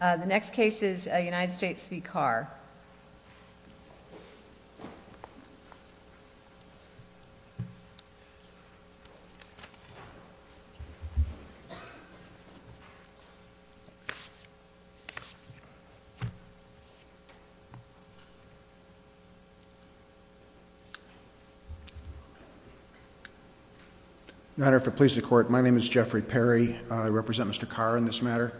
The next case is United States v. Carr. Your Honor, if it pleases the Court, my name is Jeffrey Perry. I represent Mr. Carr in this matter.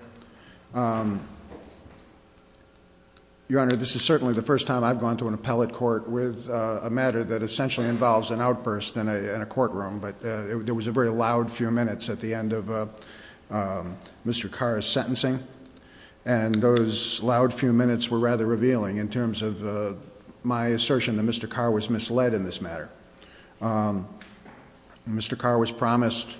Your Honor, this is certainly the first time I've gone to an appellate court with a matter that essentially involves an outburst in a courtroom, but there was a very loud few minutes at the end of Mr. Carr's sentencing, and those loud few minutes were rather revealing in terms of my assertion that Mr. Carr was misled in this matter. Mr. Carr was promised,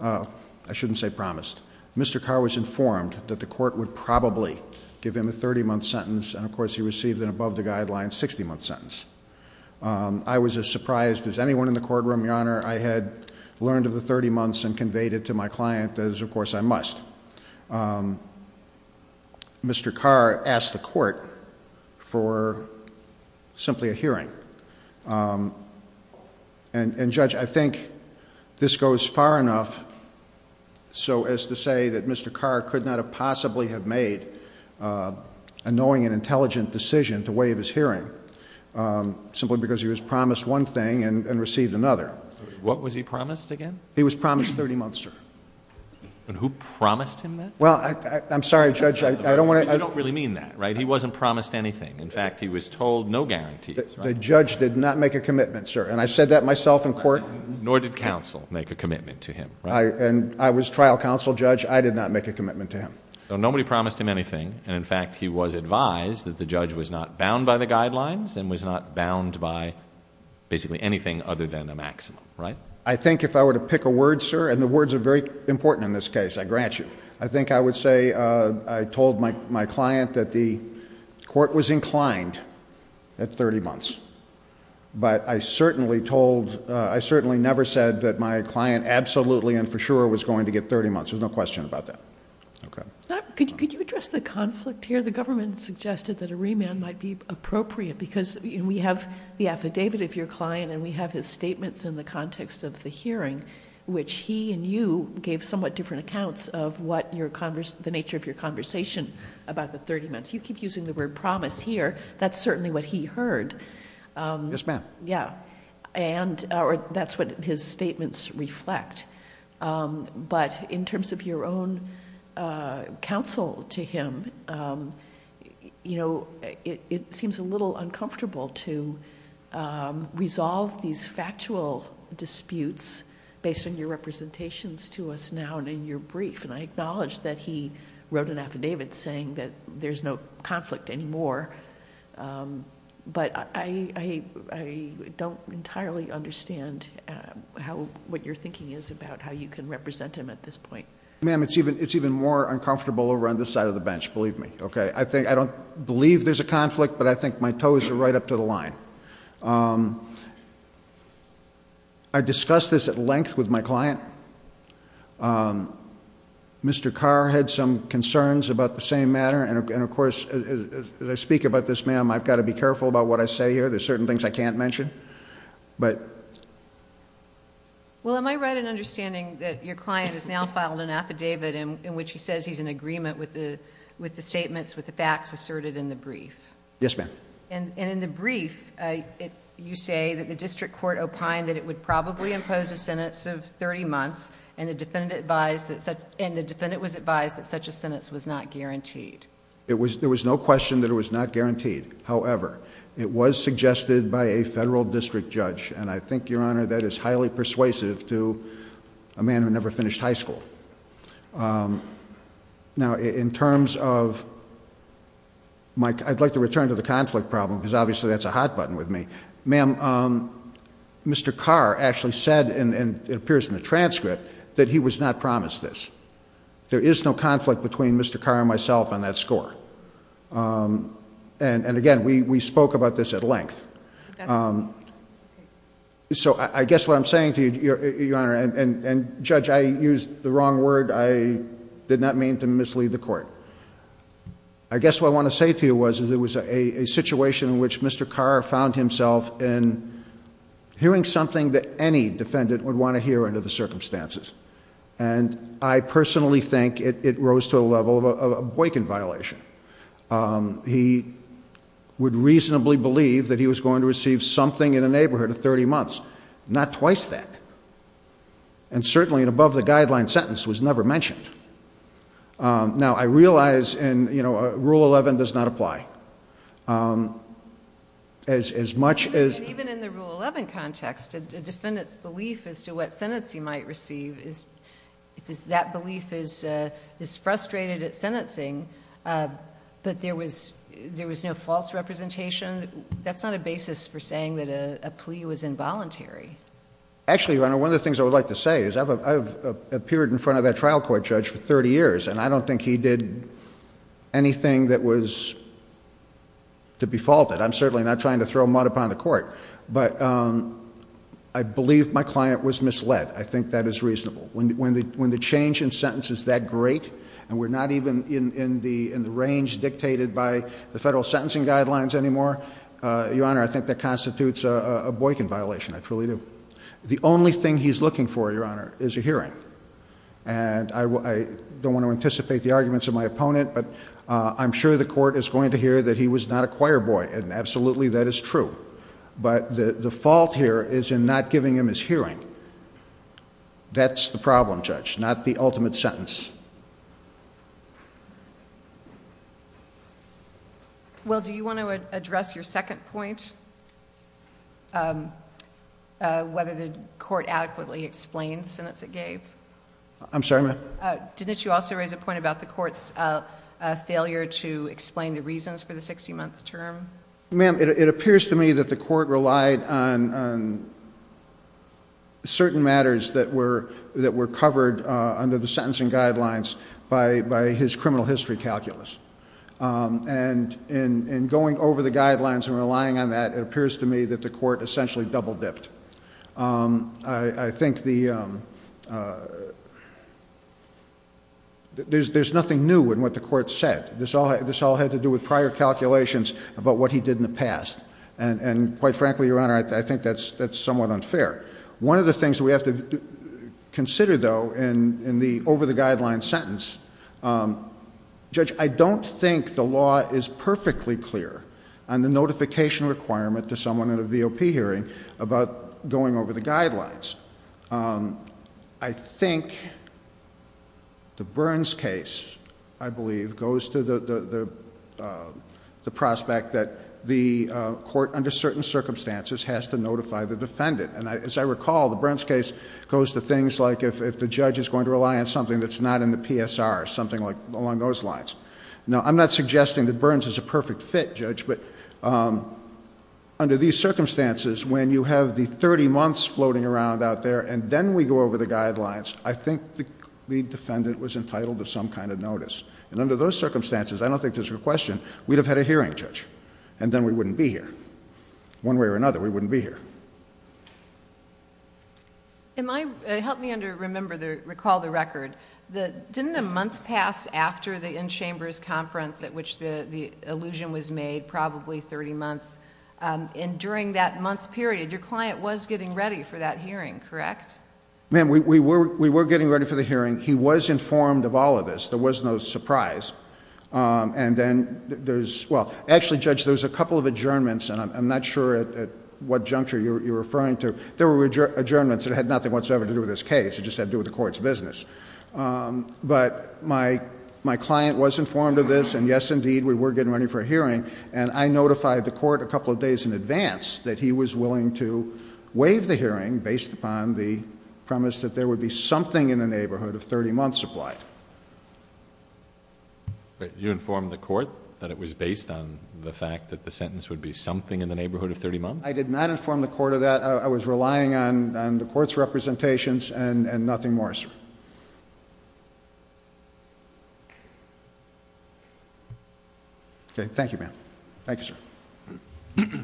I shouldn't say promised, Mr. Carr was informed that the Court would probably give him a 30-month sentence, and of course he received an above-the-guideline 60-month sentence. I was as surprised as anyone in the courtroom, Your Honor, I had learned of the 30 months and conveyed it to my client as, of course, I must. Mr. Carr asked the Court for simply a hearing. And Judge, I think this goes far enough so as to say that Mr. Carr could not have possibly have made a knowing and intelligent decision to waive his hearing simply because he was promised one thing and received another. What was he promised again? He was promised 30 months, sir. And who promised him that? Well, I'm sorry, Judge, I don't want to... You don't really mean that, right? He wasn't promised anything. In fact, he was told no guarantees, right? The judge did not make a commitment, sir, and I said that myself in court. Nor did counsel make a commitment to him, right? And I was trial counsel, Judge. I did not make a commitment to him. So nobody promised him anything, and in fact, he was advised that the judge was not bound by the guidelines and was not bound by basically anything other than a maximum, right? I think if I were to pick a word, sir, and the words are very important in this case, I grant you. I think I would say I told my client that the Court was inclined at 30 months. But I certainly told... I certainly never said that my client absolutely and for sure was going to get 30 months. There's no question about that. Okay. Could you address the conflict here? The government suggested that a remand might be appropriate because we have the affidavit of your client, and we have his statements in the context of the hearing, which he and you gave somewhat different accounts of what the nature of your conversation about the 30 months. You keep using the word promise here. That's certainly what he heard. Yes, ma'am. Yeah, and that's what his statements reflect. But in terms of your own counsel to him, you know, it seems a little uncomfortable to resolve these factual disputes based on your representations to us now and in your brief. And I acknowledge that he wrote an affidavit saying that there's no conflict anymore. But I don't entirely understand how... what your thinking is about how you can represent him at this point. Ma'am, it's even more uncomfortable over on this side of the bench, believe me. I think... I don't believe there's a conflict, but I think my toes are right up to the line. I discussed this at length with my client. Mr. Carr had some concerns about the same matter. And of course, as I speak about this, ma'am, I've got to be careful about what I say here. There's certain things I can't mention. Well, am I right in understanding that your client has now filed an affidavit in which he says he's in agreement with the statements, with the facts asserted in the brief? Yes, ma'am. And in the brief, you say that the district court opined that it would probably impose a sentence of 30 months. And the defendant was advised that such a sentence was not guaranteed. There was no question that it was not guaranteed. However, it was suggested by a federal district judge. And I think, Your Honor, that is highly persuasive to a man who never finished high school. Now, in terms of... I'd like to return to the conflict problem, because obviously that's a hot button with me. Ma'am, Mr. Carr actually said, and it appears in the transcript, that he was not promised this. There is no conflict between Mr. Carr and myself on that score. And again, we spoke about this at length. So I guess what I'm saying to you, Your Honor, and Judge, I used the wrong word. I did not mean to mislead the court. I guess what I want to say to you was, is it was a situation in which Mr. Carr found himself in hearing something that any defendant would want to hear under the circumstances. And I personally think it rose to a level of a boycott violation. He would reasonably believe that he was going to receive something in a neighborhood of 30 months. Not twice that. And certainly, an above the guideline sentence was never mentioned. Now, I realize in, you know, Rule 11 does not apply. As much as- And even in the Rule 11 context, a defendant's belief as to what sentence he might receive is, because that belief is frustrated at sentencing, but there was no false representation. That's not a basis for saying that a plea was involuntary. Actually, Your Honor, one of the things I would like to say is I've appeared in front of that trial court judge for 30 years. And I don't think he did anything that was to be faulted. I'm certainly not trying to throw mud upon the court. But I believe my client was misled. I think that is reasonable. When the change in sentence is that great, and we're not even in the range dictated by the federal sentencing guidelines anymore. Your Honor, I think that constitutes a boycott violation. I truly do. The only thing he's looking for, Your Honor, is a hearing. And I don't want to anticipate the arguments of my opponent, but I'm sure the court is going to hear that he was not a choir boy, and absolutely that is true. But the fault here is in not giving him his hearing. That's the problem, Judge, not the ultimate sentence. Well, do you want to address your second point? Whether the court adequately explained the sentence it gave? I'm sorry, ma'am? Didn't you also raise a point about the court's failure to explain the reasons for the 60 month term? Ma'am, it appears to me that the court relied on certain matters that were covered under the sentencing guidelines by his criminal history calculus. And in going over the guidelines and relying on that, it appears to me that the court essentially double dipped. I think there's nothing new in what the court said. This all had to do with prior calculations about what he did in the past. And quite frankly, Your Honor, I think that's somewhat unfair. One of the things we have to consider, though, in the over the guidelines sentence, Judge, I don't think the law is perfectly clear on the notification requirement to someone in a VOP hearing about going over the guidelines. I think the Burns case, I believe, goes to the prospect that the court under certain circumstances has to notify the defendant. As I recall, the Burns case goes to things like if the judge is going to rely on something that's not in the PSR, something along those lines. Now, I'm not suggesting that Burns is a perfect fit, Judge, but under these circumstances, when you have the 30 months floating around out there and then we go over the guidelines, I think the lead defendant was entitled to some kind of notice. And under those circumstances, I don't think there's a question, we'd have had a hearing, Judge. And then we wouldn't be here. One way or another, we wouldn't be here. Help me to recall the record. Didn't a month pass after the in-chambers conference at which the allusion was made, probably 30 months? And during that month period, your client was getting ready for that hearing, correct? Ma'am, we were getting ready for the hearing. He was informed of all of this. There was no surprise. And then there's, well, actually, Judge, there's a couple of adjournments, and I'm not sure at what juncture you're referring to. There were adjournments that had nothing whatsoever to do with this case. It just had to do with the court's business. But my client was informed of this, and yes, indeed, we were getting ready for a hearing. And I notified the court a couple of days in advance that he was willing to waive the hearing based upon the premise that there would be something in the neighborhood of 30 months applied. You informed the court that it was based on the fact that the sentence would be something in the neighborhood of 30 months? I did not inform the court of that. I was relying on the court's representations and nothing more, sir. Okay, thank you, ma'am. Thank you, sir.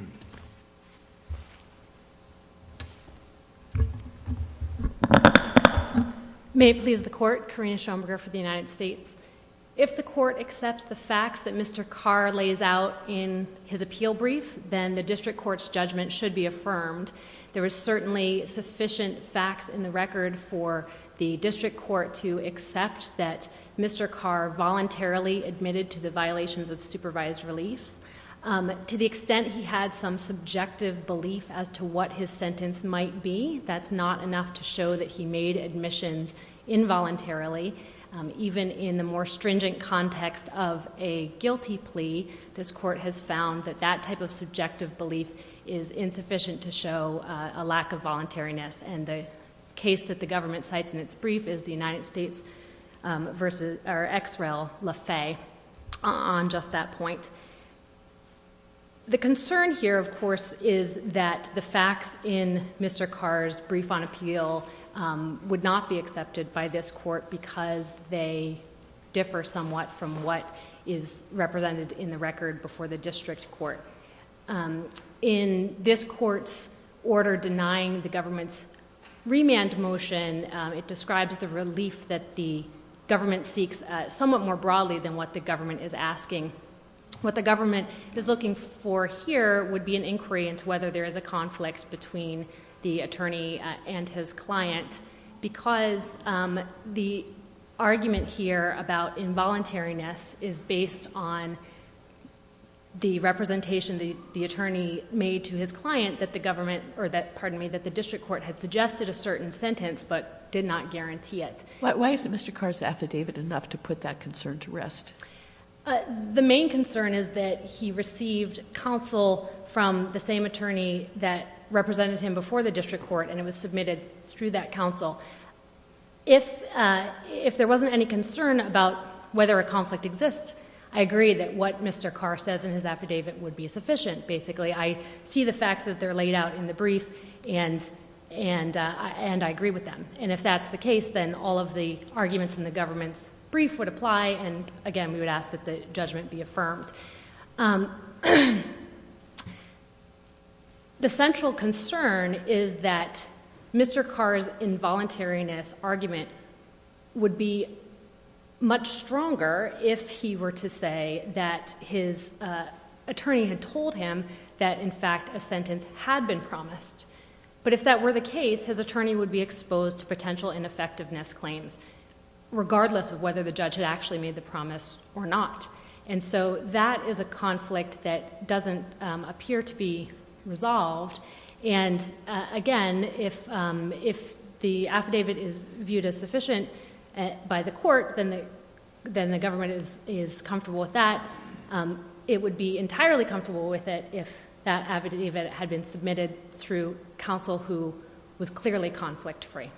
May it please the court, Karina Schomburger for the United States. If the court accepts the facts that Mr. Carr lays out in his appeal brief, then the district court's judgment should be affirmed. There is certainly sufficient facts in the record for the district court to accept that Mr. Carr voluntarily admitted to the violations of supervised relief. To the extent he had some subjective belief as to what his sentence might be, that's not enough to show that he made admissions involuntarily, even in the more stringent context of a guilty plea, this court has found that that type of subjective belief is insufficient to show a lack of voluntariness. And the case that the government cites in its brief is the United States versus, or XREL, Lafay on just that point. The concern here, of course, is that the facts in Mr. Carr's court because they differ somewhat from what is represented in the record before the district court. In this court's order denying the government's remand motion, it describes the relief that the government seeks somewhat more broadly than what the government is asking. What the government is looking for here would be an inquiry into whether there is a conflict between the attorney and his client. Because the argument here about involuntariness is based on the representation the attorney made to his client that the district court had suggested a certain sentence but did not guarantee it. Why is Mr. Carr's affidavit enough to put that concern to rest? The main concern is that he received counsel from the same attorney that represented him before the district court. And it was submitted through that counsel. If there wasn't any concern about whether a conflict exists, I agree that what Mr. Carr says in his affidavit would be sufficient, basically. I see the facts as they're laid out in the brief, and I agree with them. And if that's the case, then all of the arguments in the government's brief would apply, and again, we would ask that the judgment be affirmed. The central concern is that Mr. Carr's involuntariness argument would be much stronger if he were to say that his attorney had told him that, in fact, a sentence had been promised. But if that were the case, his attorney would be exposed to potential ineffectiveness claims, regardless of whether the judge had actually made the promise or not. And so that is a conflict that doesn't appear to be resolved. And again, if the affidavit is viewed as sufficient by the court, then the government is comfortable with that. It would be entirely comfortable with it if that affidavit had been submitted through counsel who was clearly conflict free.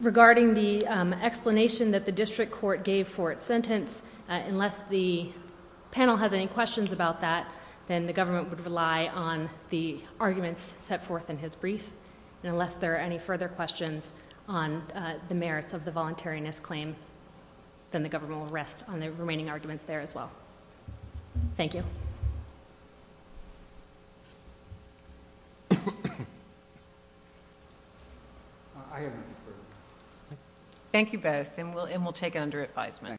Regarding the explanation that the district court gave for its sentence, unless the panel has any questions about that, then the government would rely on the arguments set forth in his brief. And unless there are any further questions on the merits of the voluntariness claim, then the government will rest on the remaining arguments there as well. Thank you. I am. Thank you both, and we'll take it under advisement.